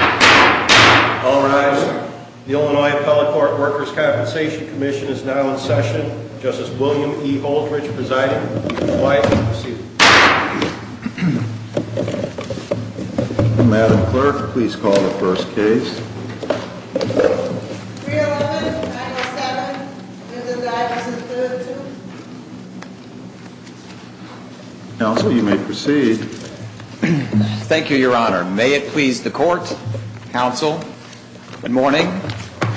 All rise. The Illinois Appellate Court Workers' Compensation Comm'n is now in session. Justice William E. Holdridge presiding. All rise and proceed. Madam Clerk, please call the first case. Counsel, you may proceed. Thank you, Your Honor. May it please the Court, Counsel, good morning.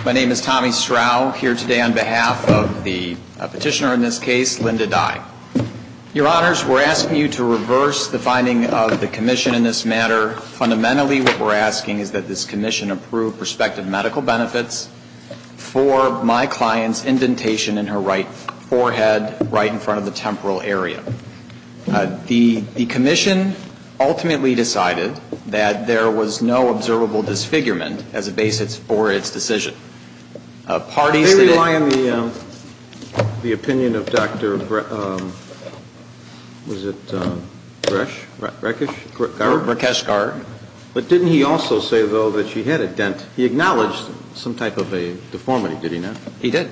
My name is Tommy Strau, here today on behalf of the petitioner in this case, Linda Dye. Your Honors, we're asking you to reverse the finding of the Commission in this matter. Fundamentally, what we're asking is that this Commission approve respective medical benefits for my client's indentation in her right forehead, right in front of the temporal area. The Commission ultimately decided that there was no observable disfigurement as a basis for its decision. They rely on the opinion of Dr. Bresch, Rakesh Garg? Rakesh Garg. But didn't he also say, though, that she had a dent? He acknowledged some type of a deformity, did he not? He did.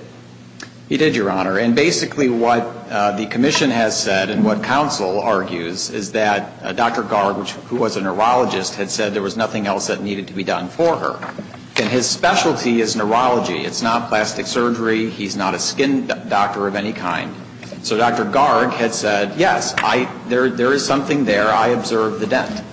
He did, Your Honor. And basically what the Commission has said and what Counsel argues is that Dr. Garg, who was a neurologist, had said there was nothing else that needed to be done for her. And his specialty is neurology. It's not plastic surgery. He's not a skin doctor of any kind. So Dr. Garg had said, yes, there is something there. I observed the dent.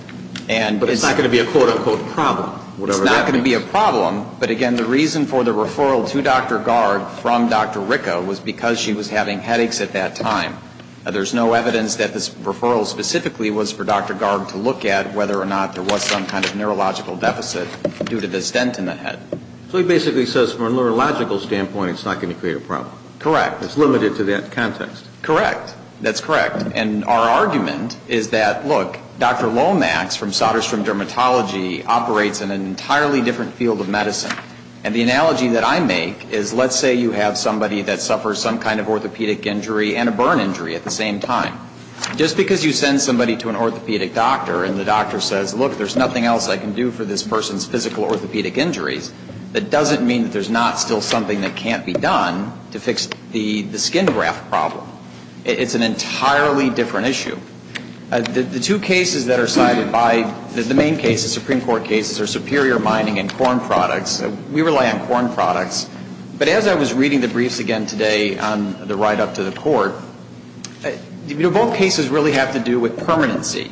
But it's not going to be a quote-unquote problem, whatever that means. But again, the reason for the referral to Dr. Garg from Dr. Ricca was because she was having headaches at that time. There's no evidence that this referral specifically was for Dr. Garg to look at, whether or not there was some kind of neurological deficit due to this dent in the head. So he basically says from a neurological standpoint, it's not going to create a problem. Correct. It's limited to that context. Correct. That's correct. And our argument is that, look, Dr. Lomax from Soderstrom Dermatology operates in an entirely different field of medicine. And the analogy that I make is let's say you have somebody that suffers some kind of orthopedic injury and a burn injury at the same time. Just because you send somebody to an orthopedic doctor and the doctor says, look, there's nothing else I can do for this person's physical orthopedic injuries, that doesn't mean that there's not still something that can't be done to fix the skin graft problem. It's an entirely different issue. The two cases that are cited by the main cases, Supreme Court cases, are superior mining and corn products. We rely on corn products. But as I was reading the briefs again today on the write-up to the court, both cases really have to do with permanency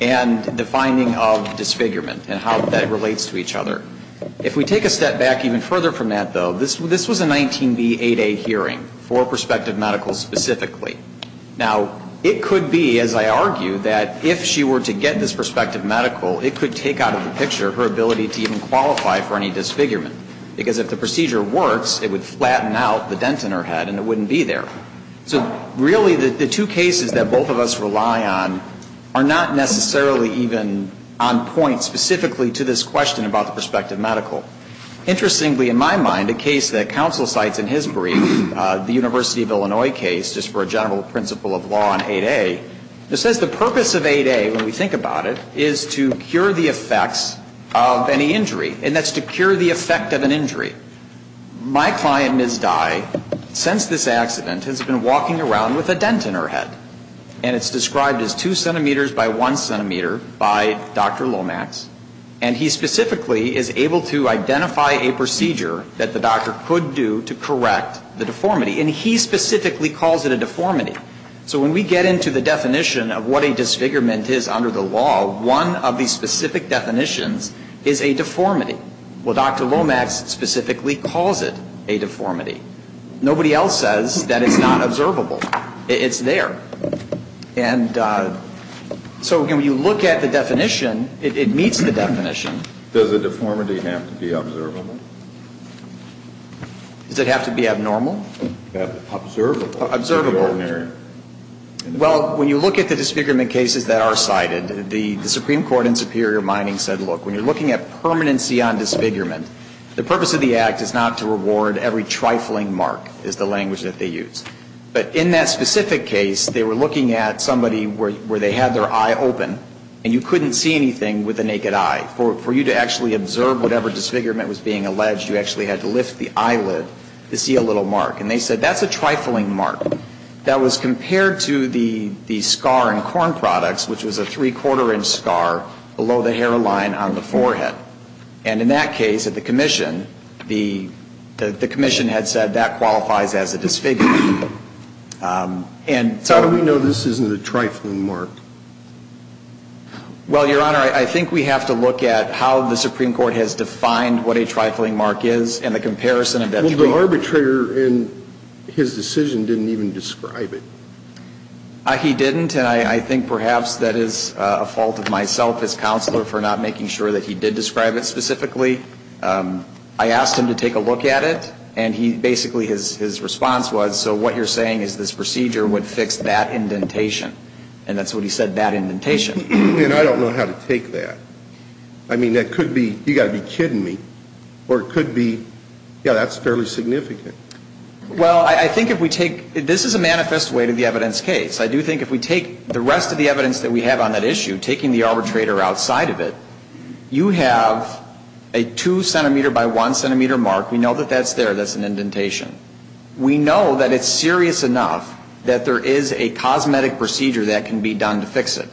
and the finding of disfigurement and how that relates to each other. If we take a step back even further from that, though, this was a 19b8a hearing for prospective medicals specifically. Now, it could be, as I argue, that if she were to get this prospective medical, it could take out of the picture her ability to even qualify for any disfigurement. Because if the procedure works, it would flatten out the dent in her head and it wouldn't be there. So really the two cases that both of us rely on are not necessarily even on point specifically to this question about the prospective medical. Interestingly, in my mind, a case that counsel cites in his brief, the University of Illinois case, just for a general principle of law on 8a, it says the purpose of 8a, when we think about it, is to cure the effects of any injury. And that's to cure the effect of an injury. My client, Ms. Dye, since this accident has been walking around with a dent in her head. And it's described as 2 centimeters by 1 centimeter by Dr. Lomax. And he specifically is able to identify a procedure that the doctor could do to correct the deformity. And he specifically calls it a deformity. So when we get into the definition of what a disfigurement is under the law, one of the specific definitions is a deformity. Well, Dr. Lomax specifically calls it a deformity. Nobody else says that it's not observable. It's there. And so when you look at the definition, it meets the definition. Does the deformity have to be observable? Does it have to be abnormal? Observable. Observable. Well, when you look at the disfigurement cases that are cited, the Supreme Court in Superior Mining said, look, when you're looking at permanency on disfigurement, the purpose of the act is not to reward every trifling mark, is the language that they use. But in that specific case, they were looking at somebody where they had their eye open, and you couldn't see anything with the naked eye. For you to actually observe whatever disfigurement was being alleged, you actually had to lift the eyelid to see a little mark. And they said that's a trifling mark. And so they said, well, let's look at the case of the one that was compared to the scar in corn products, which was a three-quarter inch scar below the hairline on the forehead. And in that case, at the commission, the commission had said that qualifies as a disfigurement. And so we know this isn't a trifling mark. Well, Your Honor, I think we have to look at how the Supreme Court has defined what a trifling mark is Well, the arbitrator in his decision didn't even describe it. He didn't. And I think perhaps that is a fault of myself as counselor for not making sure that he did describe it specifically. I asked him to take a look at it, and basically his response was, so what you're saying is this procedure would fix that indentation. And that's what he said, that indentation. And I don't know how to take that. I mean, that could be, you've got to be kidding me, or it could be, yeah, that's fairly significant. Well, I think if we take, this is a manifest way to the evidence case. I do think if we take the rest of the evidence that we have on that issue, taking the arbitrator outside of it, you have a two-centimeter by one-centimeter mark. We know that that's there. That's an indentation. We know that it's serious enough that there is a cosmetic procedure that can be done to fix it.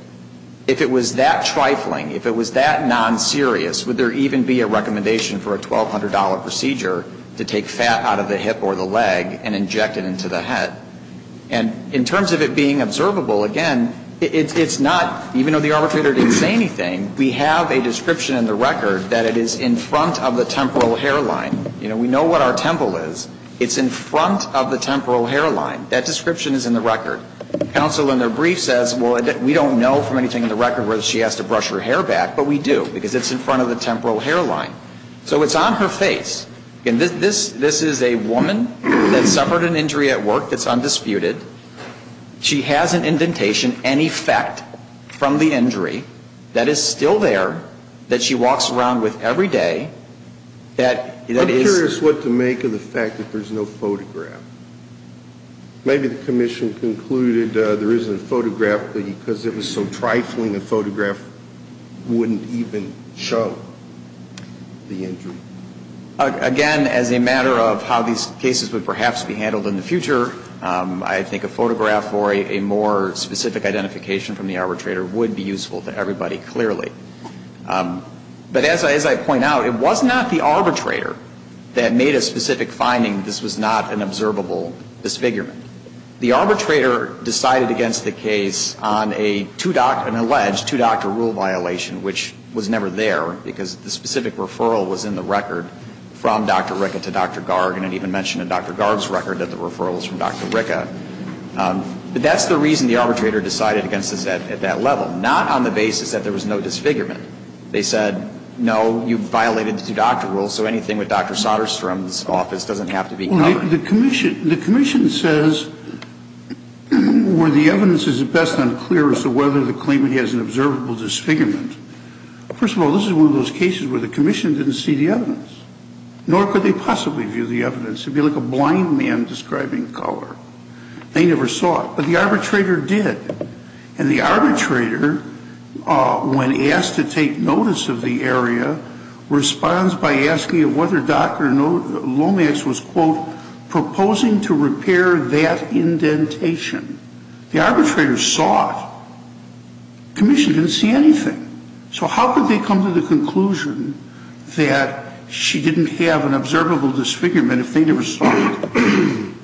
If it was that trifling, if it was that non-serious, would there even be a recommendation for a $1,200 procedure to take fat out of the hip or the leg and inject it into the head? And in terms of it being observable, again, it's not, even though the arbitrator didn't say anything, we have a description in the record that it is in front of the temporal hairline. You know, we know what our temple is. It's in front of the temporal hairline. That description is in the record. Counsel in their brief says, well, we don't know from anything in the record whether she has to brush her hair back, but we do because it's in front of the temporal hairline. So it's on her face. This is a woman that suffered an injury at work that's undisputed. She has an indentation, an effect from the injury that is still there that she walks around with every day that is ‑‑ I'm curious what to make of the fact that there's no photograph. Maybe the commission concluded there isn't a photograph because it was so trifling, a photograph wouldn't even show the injury. Again, as a matter of how these cases would perhaps be handled in the future, I think a photograph or a more specific identification from the arbitrator would be useful to everybody, clearly. But as I point out, it was not the arbitrator that made a specific finding that this was not an observable disfigurement. The arbitrator decided against the case on an alleged two‑doctor rule violation, which was never there because the specific referral was in the record from Dr. Ricke to Dr. Garg and it even mentioned in Dr. Garg's record that the referral was from Dr. Ricke. But that's the reason the arbitrator decided against this at that level, not on the basis that there was no disfigurement. They said, no, you violated the two‑doctor rule, so anything with Dr. Soderstrom's office doesn't have to be covered. The commission says where the evidence is at best unclear as to whether the claimant has an observable disfigurement. First of all, this is one of those cases where the commission didn't see the evidence, nor could they possibly view the evidence. It would be like a blind man describing color. They never saw it. But the arbitrator did. And the arbitrator, when asked to take notice of the area, responds by asking whether Dr. Lomax was, quote, proposing to repair that indentation. The arbitrator saw it. The commission didn't see anything. So how could they come to the conclusion that she didn't have an observable disfigurement if they never saw it?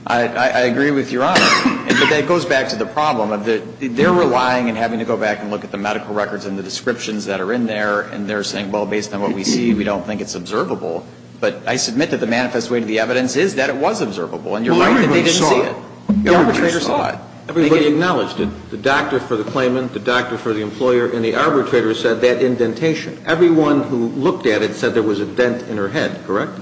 I agree with Your Honor. But that goes back to the problem of they're relying and having to go back and look at the medical records and the descriptions that are in there, and they're saying, well, based on what we see, we don't think it's observable. But I submit that the manifest way to the evidence is that it was observable, and you're right that they didn't see it. The arbitrator saw it. Everybody acknowledged it. The doctor for the claimant, the doctor for the employer, and the arbitrator said that indentation. Everyone who looked at it said there was a dent in her head, correct?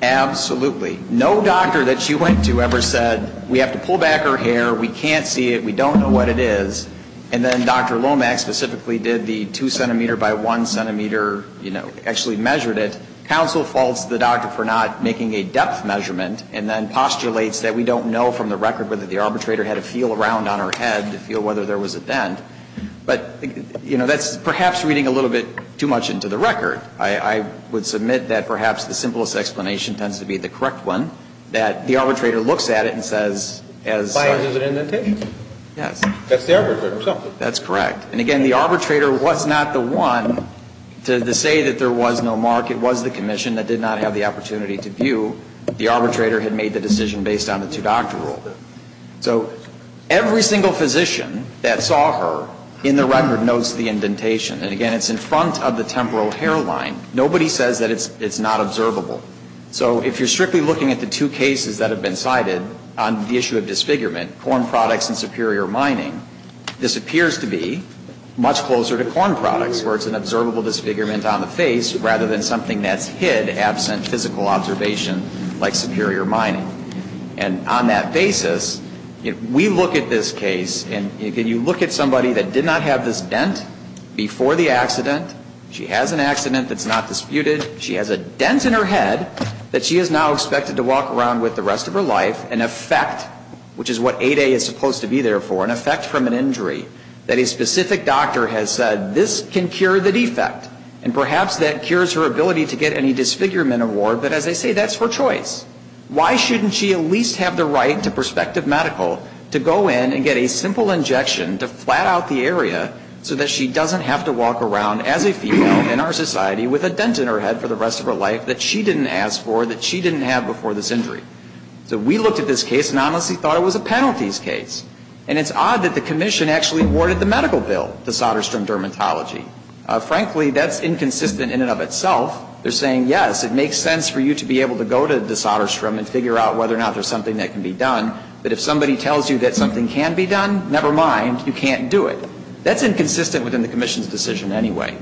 Absolutely. No doctor that she went to ever said we have to pull back her hair, we can't see it, we don't know what it is. And then Dr. Lomax specifically did the 2 centimeter by 1 centimeter, you know, actually measured it. Counsel faults the doctor for not making a depth measurement and then postulates that we don't know from the record whether the arbitrator had a feel around on her head to feel whether there was a dent. But, you know, that's perhaps reading a little bit too much into the record. I would submit that perhaps the simplest explanation tends to be the correct one, that the arbitrator looks at it and says as far as an indentation. Yes. That's the arbitrator himself. That's correct. And, again, the arbitrator was not the one to say that there was no mark. It was the commission that did not have the opportunity to view. The arbitrator had made the decision based on the two doctor rule. So every single physician that saw her in the record notes the indentation. And, again, it's in front of the temporal hairline. Nobody says that it's not observable. So if you're strictly looking at the two cases that have been cited on the issue of disfigurement, corn products and superior mining, this appears to be much closer to corn products where it's an observable disfigurement on the face rather than something that's hid absent physical observation like superior mining. And on that basis, if we look at this case, and if you look at somebody that did not have this dent before the accident, she has an accident that's not disputed. She has a dent in her head that she is now expected to walk around with the rest of her life, an effect, which is what 8A is supposed to be there for, an effect from an injury, that a specific doctor has said this can cure the defect. And perhaps that cures her ability to get any disfigurement award. But, as I say, that's her choice. Why shouldn't she at least have the right to prospective medical to go in and get a simple injection to flat out the area so that she doesn't have to walk around as a female in our society with a dent in her head for the rest of her life that she didn't ask for, that she didn't have before this injury? So we looked at this case and honestly thought it was a penalties case. And it's odd that the commission actually awarded the medical bill to Soderstrom Dermatology. Frankly, that's inconsistent in and of itself. They're saying, yes, it makes sense for you to be able to go to the Soderstrom and figure out whether or not there's something that can be done. But if somebody tells you that something can be done, never mind, you can't do it. That's inconsistent within the commission's decision anyway.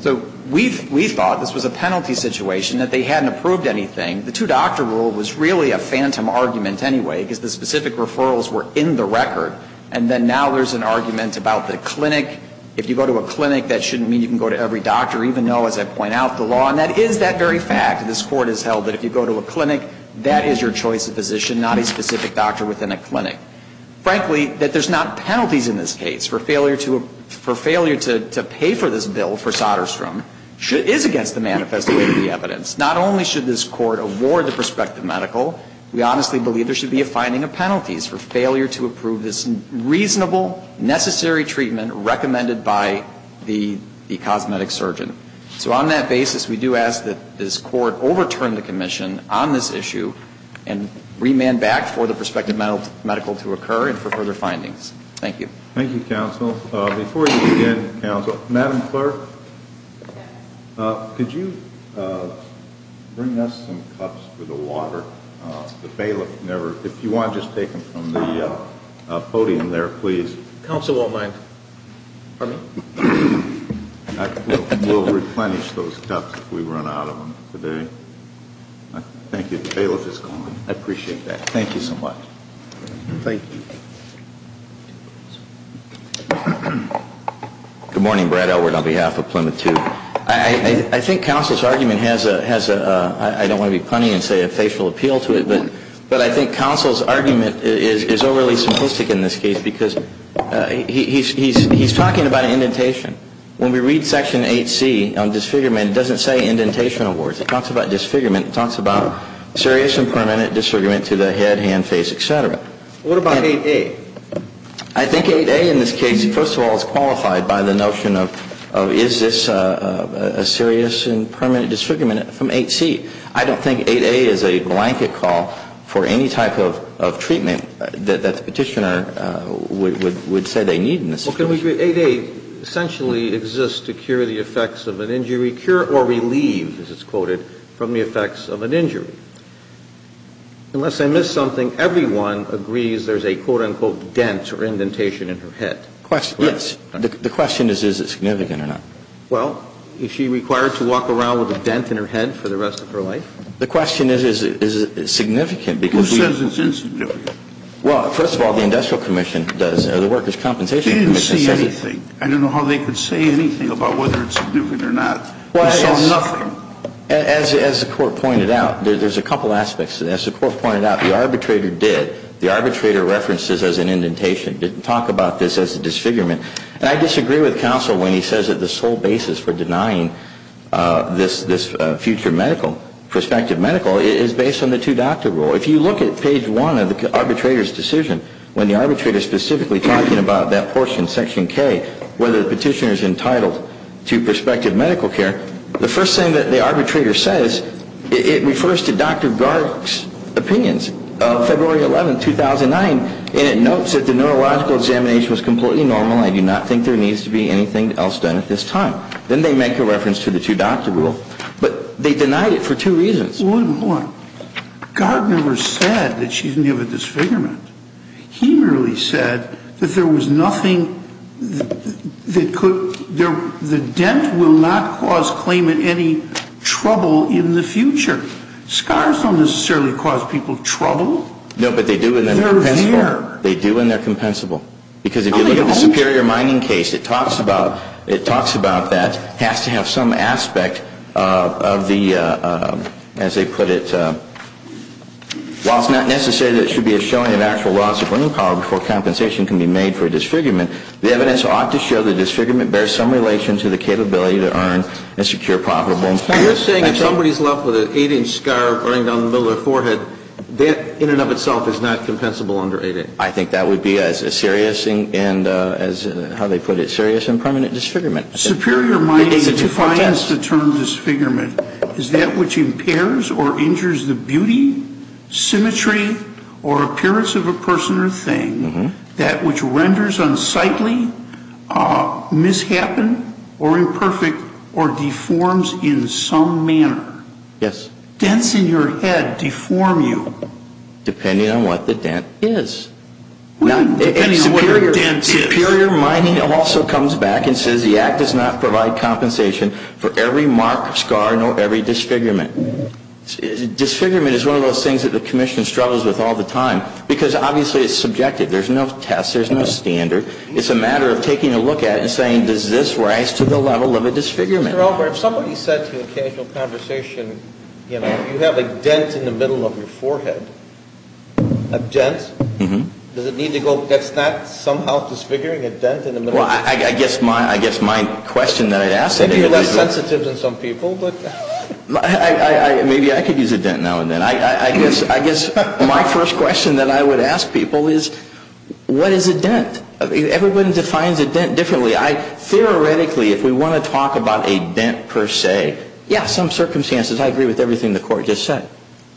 So we thought this was a penalty situation, that they hadn't approved anything. The two-doctor rule was really a phantom argument anyway, because the specific referrals were in the record. And then now there's an argument about the clinic. If you go to a clinic, that shouldn't mean you can go to every doctor, even though, as I point out, the law on that is that very fact. This Court has held that if you go to a clinic, that is your choice of physician, not a specific doctor within a clinic. Frankly, that there's not penalties in this case for failure to pay for this bill for Soderstrom is against the manifest way of the evidence. Not only should this Court award the prospective medical, we honestly believe there should be a finding of penalties for failure to approve this reasonable, necessary treatment recommended by the cosmetic surgeon. So on that basis, we do ask that this Court overturn the commission on this issue and remand back for the prospective medical to occur and for further findings. Thank you. Thank you, counsel. Before you begin, counsel, Madam Clerk, could you bring us some cups for the water? The bailiff never, if you want, just take them from the podium there, please. Counsel won't mind. We'll replenish those cups if we run out of them today. Thank you. The bailiff is gone. I appreciate that. Thank you so much. Thank you. Good morning. Brad Elwood on behalf of Plymouth 2. I think counsel's argument has a, I don't want to be punny and say a facial appeal to it, but I think counsel's argument is overly simplistic in this case because he's talking about indentation. When we read Section 8C on disfigurement, it doesn't say indentation awards. It talks about disfigurement. It talks about serious and permanent disfigurement to the head, hand, face, et cetera. What about 8A? I think 8A in this case, first of all, is qualified by the notion of is this a serious and permanent disfigurement from 8C. I don't think 8A is a blanket call for any type of treatment that the Petitioner would say they need in this situation. Well, can we agree 8A essentially exists to cure the effects of an injury, cure or relieve, as it's quoted, from the effects of an injury? Unless I missed something, everyone agrees there's a, quote, unquote, dent or indentation in her head. Yes. The question is, is it significant or not? Well, is she required to walk around with a dent in her head for the rest of her life? The question is, is it significant because we. Who says it's insignificant? Well, first of all, the Industrial Commission does, or the Workers' Compensation Commission. They didn't say anything. I don't know how they could say anything about whether it's significant or not. We saw nothing. As the Court pointed out, there's a couple aspects. As the Court pointed out, the arbitrator did. The arbitrator referenced this as an indentation, didn't talk about this as a disfigurement. And I disagree with counsel when he says that the sole basis for denying this future medical, prospective medical, is based on the two-doctor rule. If you look at page one of the arbitrator's decision, when the arbitrator is specifically talking about that portion, section K, whether the petitioner is entitled to prospective medical care, the first thing that the arbitrator says, it refers to Dr. Gard's opinions. February 11, 2009, and it notes that the neurological examination was completely normal. I do not think there needs to be anything else done at this time. Then they make a reference to the two-doctor rule. But they denied it for two reasons. One, Gard never said that she didn't have a disfigurement. He merely said that there was nothing that could, the dent will not cause claimant any trouble in the future. Scars don't necessarily cause people trouble. No, but they do when they're compensable. They're there. They do when they're compensable. Because if you look at the Superior Mining case, it talks about, it talks about that it has to have some aspect of the, as they put it, While it's not necessary that it should be a showing of actual loss of living power before compensation can be made for a disfigurement, the evidence ought to show the disfigurement bears some relation to the capability to earn and secure profitable employment. You're saying if somebody's left with an 8-inch scar running down the middle of their forehead, that in and of itself is not compensable under 8-inch? I think that would be a serious and, as, how they put it, serious and permanent disfigurement. Superior Mining defines the term disfigurement as that which impairs or injures the beauty, symmetry, or appearance of a person or thing, that which renders unsightly, mishappen, or imperfect, or deforms in some manner. Yes. Dents in your head deform you. Depending on what the dent is. Superior Mining also comes back and says the Act does not provide compensation for every mark, scar, nor every disfigurement. Disfigurement is one of those things that the Commission struggles with all the time, because obviously it's subjective. There's no test, there's no standard. It's a matter of taking a look at it and saying, does this rise to the level of a disfigurement? Mr. Elber, if somebody said to you in casual conversation, you know, you have a dent in the middle of your forehead, a dent, does it need to go, that's not somehow disfiguring, a dent in the middle of your forehead? Well, I guess my question that I'd ask is... Maybe you're less sensitive than some people, but... Maybe I could use a dent now and then. I guess my first question that I would ask people is, what is a dent? Everybody defines a dent differently. Theoretically, if we want to talk about a dent per se, yeah, some circumstances I agree with everything the Court just said.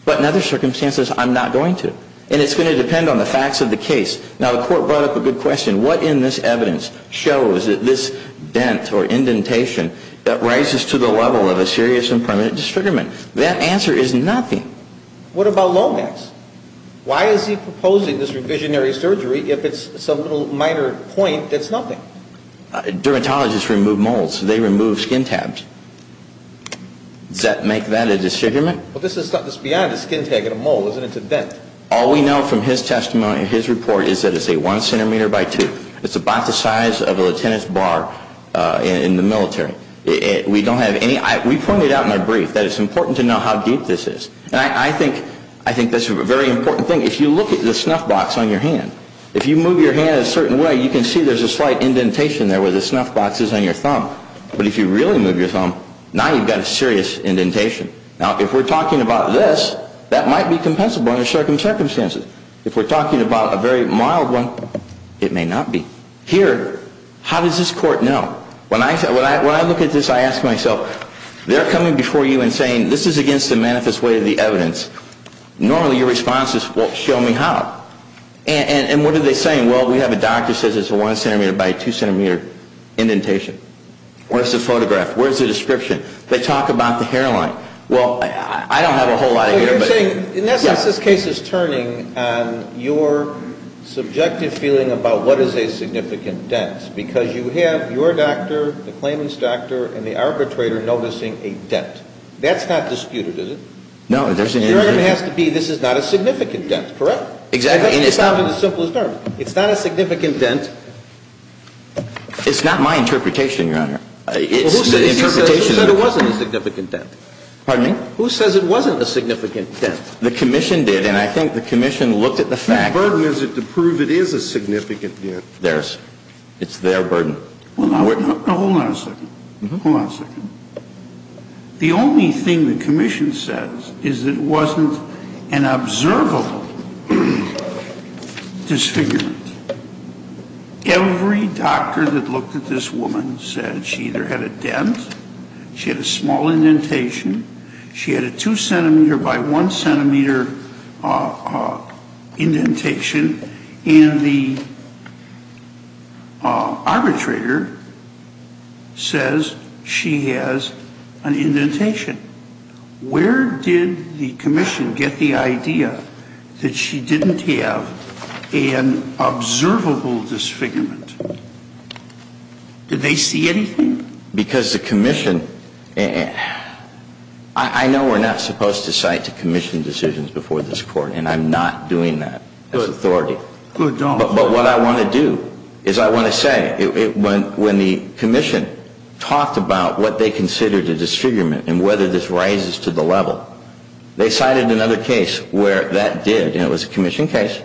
But in other circumstances, I'm not going to. And it's going to depend on the facts of the case. Now, the Court brought up a good question. What in this evidence shows that this dent or indentation that rises to the level of a serious and permanent disfigurement? That answer is nothing. What about Lomax? Why is he proposing this revisionary surgery if it's some minor point that's nothing? Dermatologists remove molds. They remove skin tabs. Does that make that a disfigurement? Well, this is beyond a skin tag and a mold, isn't it? It's a dent. All we know from his testimony, his report, is that it's a one centimeter by two. It's about the size of a lieutenant's bar in the military. We don't have any... We pointed out in our brief that it's important to know how deep this is. And I think that's a very important thing. If you look at the snuff box on your hand, if you move your hand a certain way, you can see there's a slight indentation there where the snuff box is on your thumb. But if you really move your thumb, now you've got a serious indentation. Now, if we're talking about this, that might be compensable under certain circumstances. If we're talking about a very mild one, it may not be. Here, how does this Court know? When I look at this, I ask myself, they're coming before you and saying this is against the manifest way of the evidence. Normally your response is, well, show me how. And what are they saying? Well, we have a doctor who says it's a one centimeter by two centimeter indentation. Where's the photograph? Where's the description? They talk about the hairline. Well, I don't have a whole lot of... So you're saying, in essence, this case is turning on your subjective feeling about what is a significant dent. Yes, because you have your doctor, the claimant's doctor, and the arbitrator noticing a dent. That's not disputed, is it? No, there's an indentation. Your argument has to be this is not a significant dent, correct? Exactly. That's the simplest argument. It's not a significant dent. It's not my interpretation, Your Honor. Well, who said it wasn't a significant dent? Pardon me? Who says it wasn't a significant dent? The Commission did, and I think the Commission looked at the fact... What burden is it to prove it is a significant dent? It's their burden. Well, now, hold on a second. Hold on a second. The only thing the Commission says is it wasn't an observable disfigurement. Every doctor that looked at this woman said she either had a dent, she had a small indentation, she had a 2-centimeter by 1-centimeter indentation, and the arbitrator says she has an indentation. Where did the Commission get the idea that she didn't have an observable disfigurement? Did they see anything? Because the Commission... I know we're not supposed to cite to Commission decisions before this Court, and I'm not doing that as authority. Good job. But what I want to do is I want to say, when the Commission talked about what they considered a disfigurement and whether this rises to the level, they cited another case where that did, and it was a Commission case,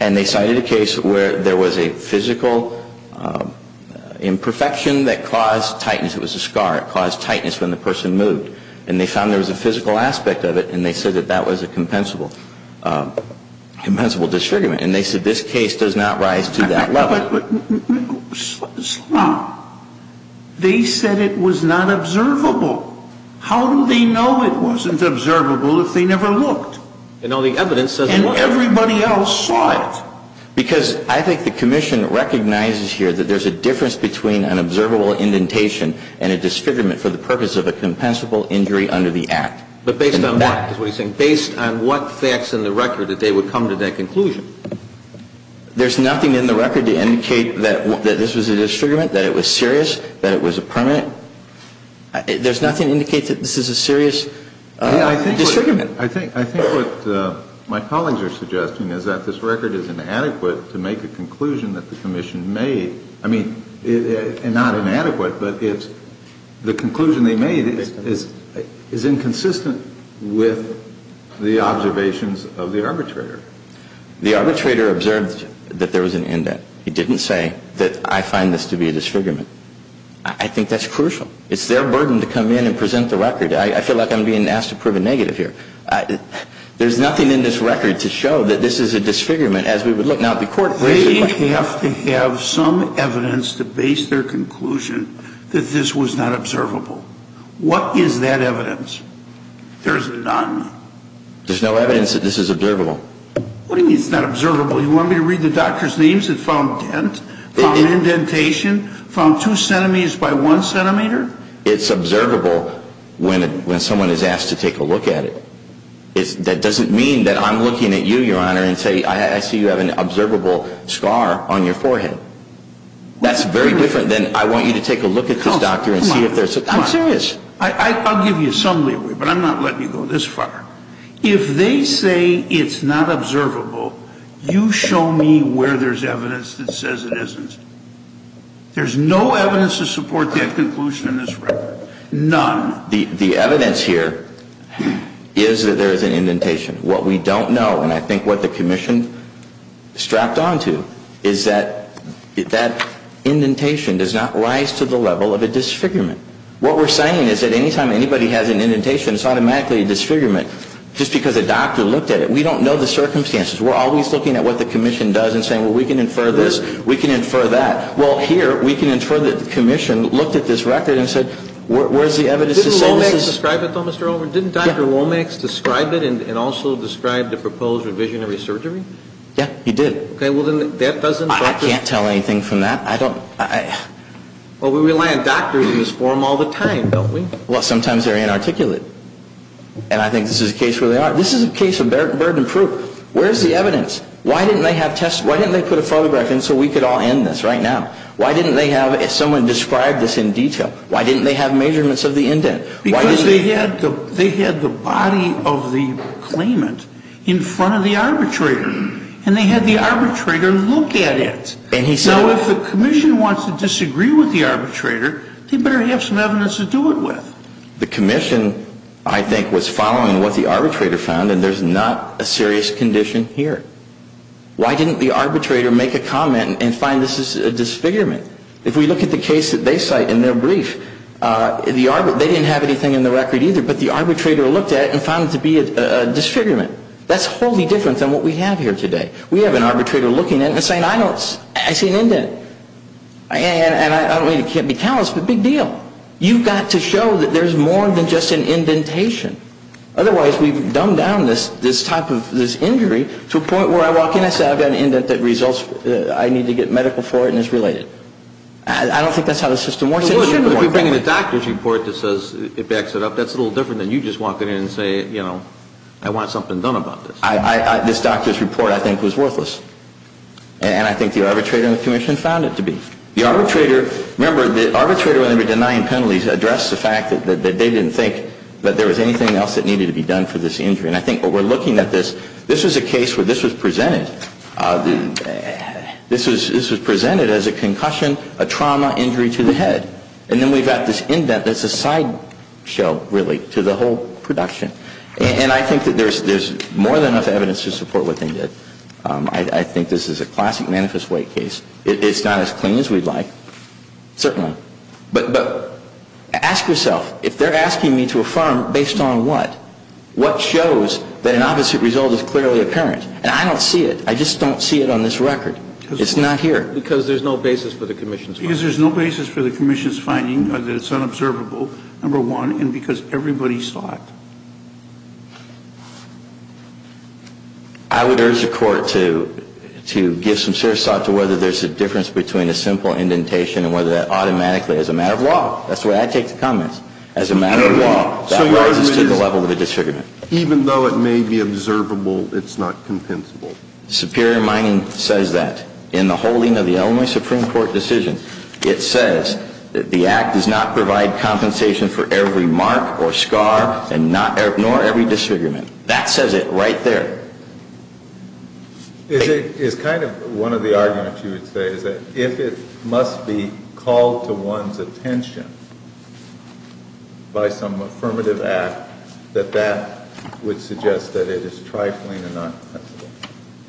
and they cited a case where there was a physical imperfection that caused tightness. It was a scar. It caused tightness when the person moved. And they found there was a physical aspect of it, and they said that that was a compensable disfigurement. And they said this case does not rise to that level. But, Slott, they said it was not observable. How do they know it wasn't observable if they never looked? And everybody else saw it. Because I think the Commission recognizes here that there's a difference between an observable indentation and a disfigurement for the purpose of a compensable injury under the Act. But based on what? Based on what facts in the record that they would come to that conclusion? There's nothing in the record to indicate that this was a disfigurement, that it was serious, that it was a permanent. There's nothing to indicate that this is a serious disfigurement. I think what my colleagues are suggesting is that this record is inadequate to make a conclusion that the Commission made. I mean, not inadequate, but the conclusion they made is inconsistent with the observations of the arbitrator. The arbitrator observed that there was an indent. He didn't say that I find this to be a disfigurement. I think that's crucial. It's their burden to come in and present the record. I feel like I'm being asked to prove a negative here. There's nothing in this record to show that this is a disfigurement as we would look. Now, the Court raised the question. They have to have some evidence to base their conclusion that this was not observable. What is that evidence? There's none. There's no evidence that this is observable. What do you mean it's not observable? You want me to read the doctor's names that found dent, found indentation, found two centimeters by one centimeter? It's observable when someone is asked to take a look at it. That doesn't mean that I'm looking at you, Your Honor, and say I see you have an observable scar on your forehead. That's very different than I want you to take a look at this doctor and see if there's a scar. I'm serious. I'll give you some leeway, but I'm not letting you go this far. If they say it's not observable, you show me where there's evidence that says it isn't. There's no evidence to support that conclusion in this record. None. The evidence here is that there is an indentation. What we don't know, and I think what the Commission strapped on to, is that that indentation does not rise to the level of a disfigurement. What we're saying is that any time anybody has an indentation, it's automatically a disfigurement just because a doctor looked at it. We don't know the circumstances. We're always looking at what the Commission does and saying, well, we can infer this, we can infer that. Well, here, we can infer that the Commission looked at this record and said, where's the evidence to say this is ‑‑ Didn't Lomax describe it, though, Mr. Overton? Didn't Dr. Lomax describe it and also describe the proposed revisionary surgery? Yeah, he did. Okay. Well, then that doesn't ‑‑ I can't tell anything from that. I don't ‑‑ Well, we rely on doctors in this forum all the time, don't we? Well, sometimes they're inarticulate, and I think this is a case where they are. This is a case of burden proof. Where's the evidence? Why didn't they put a photograph in so we could all end this right now? Why didn't they have someone describe this in detail? Why didn't they have measurements of the indent? Because they had the body of the claimant in front of the arbitrator, and they had the arbitrator look at it. Now, if the Commission wants to disagree with the arbitrator, they better have some evidence to do it with. The Commission, I think, was following what the arbitrator found, and there's not a serious condition here. Why didn't the arbitrator make a comment and find this is a disfigurement? If we look at the case that they cite in their brief, they didn't have anything in the record either, but the arbitrator looked at it and found it to be a disfigurement. That's wholly different than what we have here today. We have an arbitrator looking at it and saying, I see an indent. And I don't mean to be callous, but big deal. You've got to show that there's more than just an indentation. Otherwise, we've dumbed down this type of injury to a point where I walk in, I say, I've got an indent that results, I need to get medical for it, and it's related. I don't think that's how the system works anymore. But if you bring in a doctor's report that says it backs it up, that's a little different than you just walking in and saying, you know, I want something done about this. This doctor's report, I think, was worthless. And I think the arbitrator and the Commission found it to be. The arbitrator, remember, the arbitrator, when they were denying penalties, addressed the fact that they didn't think that there was anything else that needed to be done for this injury. And I think when we're looking at this, this was a case where this was presented. This was presented as a concussion, a trauma injury to the head. And then we've got this indent that's a sideshow, really, to the whole production. And I think that there's more than enough evidence to support what they did. I think this is a classic manifest weight case. It's not as clean as we'd like, certainly. But ask yourself, if they're asking me to affirm based on what, what shows that an opposite result is clearly apparent? And I don't see it. I just don't see it on this record. It's not here. Because there's no basis for the Commission's finding. Because there's no basis for the Commission's finding that it's unobservable, number one, and because everybody saw it. I would urge the Court to give some serious thought to whether there's a difference between a simple indentation and whether that automatically, as a matter of law, that's the way I take the comments, as a matter of law, that rises to the level of a disfigurement. Even though it may be observable, it's not compensable. Superior mining says that. In the holding of the Illinois Supreme Court decision, it says that the act does not provide compensation for every mark or scar, nor every disfigurement. That says it right there. It's kind of one of the arguments you would say, is that if it must be called to one's attention by some affirmative act, that that would suggest that it is trifling and not compensable.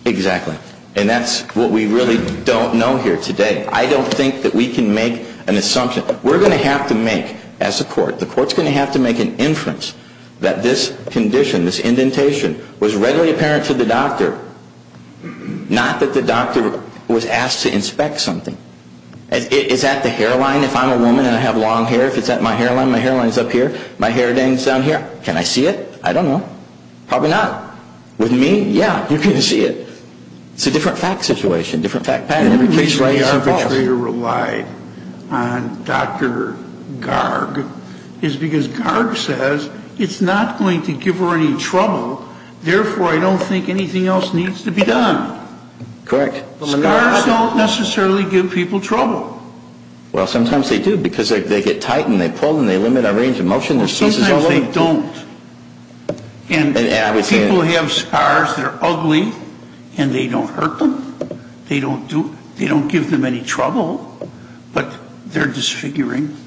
Exactly. And that's what we really don't know here today. I don't think that we can make an assumption. We're going to have to make, as a Court, the Court's going to have to make an inference that this condition, this indentation, was readily apparent to the doctor, not that the doctor was asked to inspect something. Is that the hairline? If I'm a woman and I have long hair, is that my hairline? My hairline's up here. My hair hangs down here. Can I see it? I don't know. Probably not. With me, yeah, you can see it. It's a different fact situation, different fact pattern. And the reason the arbitrator relied on Dr. Garg is because Garg says, it's not going to give her any trouble, therefore, I don't think anything else needs to be done. Correct. Scars don't necessarily give people trouble. Well, sometimes they do, because they get tight and they pull and they limit our range of motion. Well, sometimes they don't. And people have scars that are ugly and they don't hurt them. They don't give them any trouble, but they're disfiguring.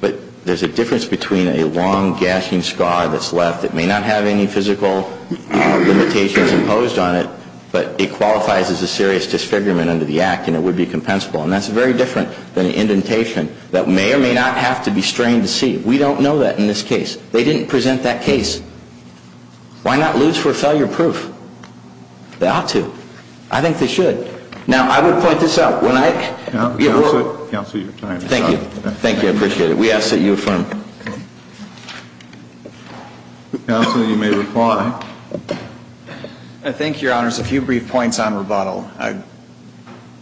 But there's a difference between a long, gashing scar that's left that may not have any physical limitations imposed on it, but it qualifies as a serious disfigurement under the Act and it would be compensable. And that's very different than an indentation that may or may not have to be strained to see. We don't know that in this case. They didn't present that case. Why not lose for failure proof? They ought to. I think they should. Now, I would point this out. Counsel, your time is up. Thank you. I appreciate it. We ask that you affirm. Counsel, you may reply. Thank you, Your Honors. A few brief points on rebuttal.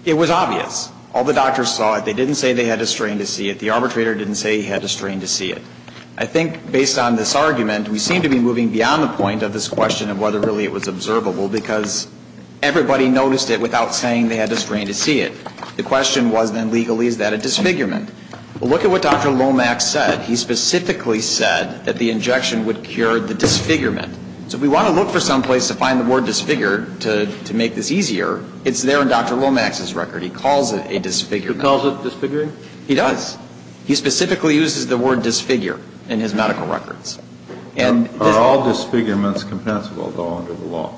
It was obvious. All the doctors saw it. They didn't say they had to strain to see it. The arbitrator didn't say he had to strain to see it. I think based on this argument, we seem to be moving beyond the point of this question of whether really it was observable because everybody noticed it without saying they had to strain to see it. The question was then legally, is that a disfigurement? Well, look at what Dr. Lomax said. He specifically said that the injection would cure the disfigurement. So if we want to look for someplace to find the word disfigured to make this easier, it's there in Dr. Lomax's record. He calls it a disfigurement. He calls it disfiguring? He does. He specifically uses the word disfigure in his medical records. Are all disfigurements compensable, though, under the law?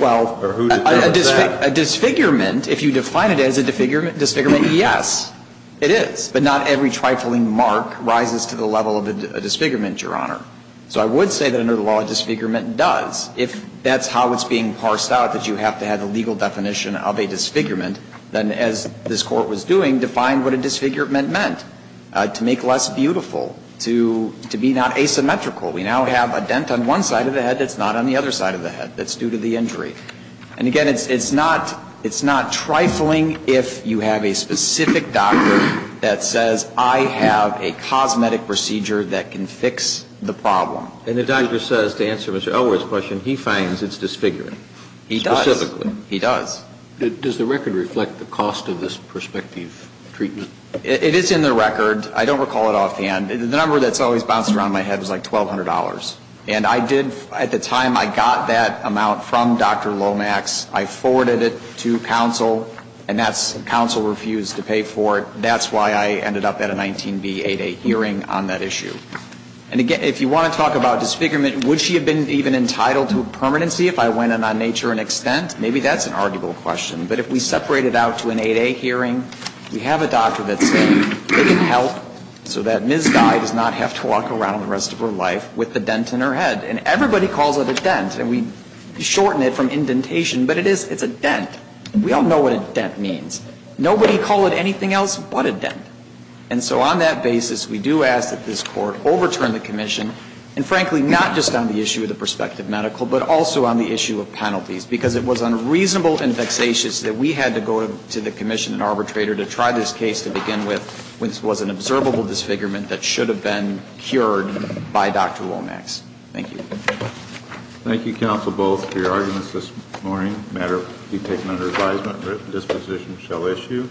Well, a disfigurement, if you define it as a disfigurement, yes, it is. But not every trifling mark rises to the level of a disfigurement, Your Honor. So I would say that under the law, a disfigurement does. If that's how it's being parsed out, that you have to have a legal definition of a disfigurement, then as this Court was doing, define what a disfigurement meant. To make less beautiful, to be not asymmetrical. We now have a dent on one side of the head that's not on the other side of the head that's due to the injury. And again, it's not trifling if you have a specific doctor that says, I have a cosmetic procedure that can fix the problem. And the doctor says, to answer Mr. Elwood's question, he finds it's disfiguring. He does. He does. Does the record reflect the cost of this prospective treatment? It is in the record. I don't recall it offhand. The number that's always bouncing around in my head is like $1,200. And I did, at the time I got that amount from Dr. Lomax, I forwarded it to counsel, and that's, counsel refused to pay for it. That's why I ended up at a 19b8a hearing on that issue. And again, if you want to talk about disfigurement, would she have been even entitled to a permanency if I went in on nature and extent? Maybe that's an arguable question. But if we separate it out to an 8a hearing, we have a doctor that says they can help so that Ms. Dye does not have to walk around the rest of her life with a dent in her head. And everybody calls it a dent. And we shorten it from indentation, but it is, it's a dent. We all know what a dent means. Nobody call it anything else but a dent. And so on that basis, we do ask that this Court overturn the commission, and frankly, not just on the issue of the prospective medical, but also on the issue of penalties. Because it was unreasonable and vexatious that we had to go to the commission and arbitrator to try this case to begin with when this was an observable disfigurement that should have been cured by Dr. Lomax. Thank you. Thank you, counsel, both, for your arguments this morning. A matter to be taken under advisement. This position shall issue.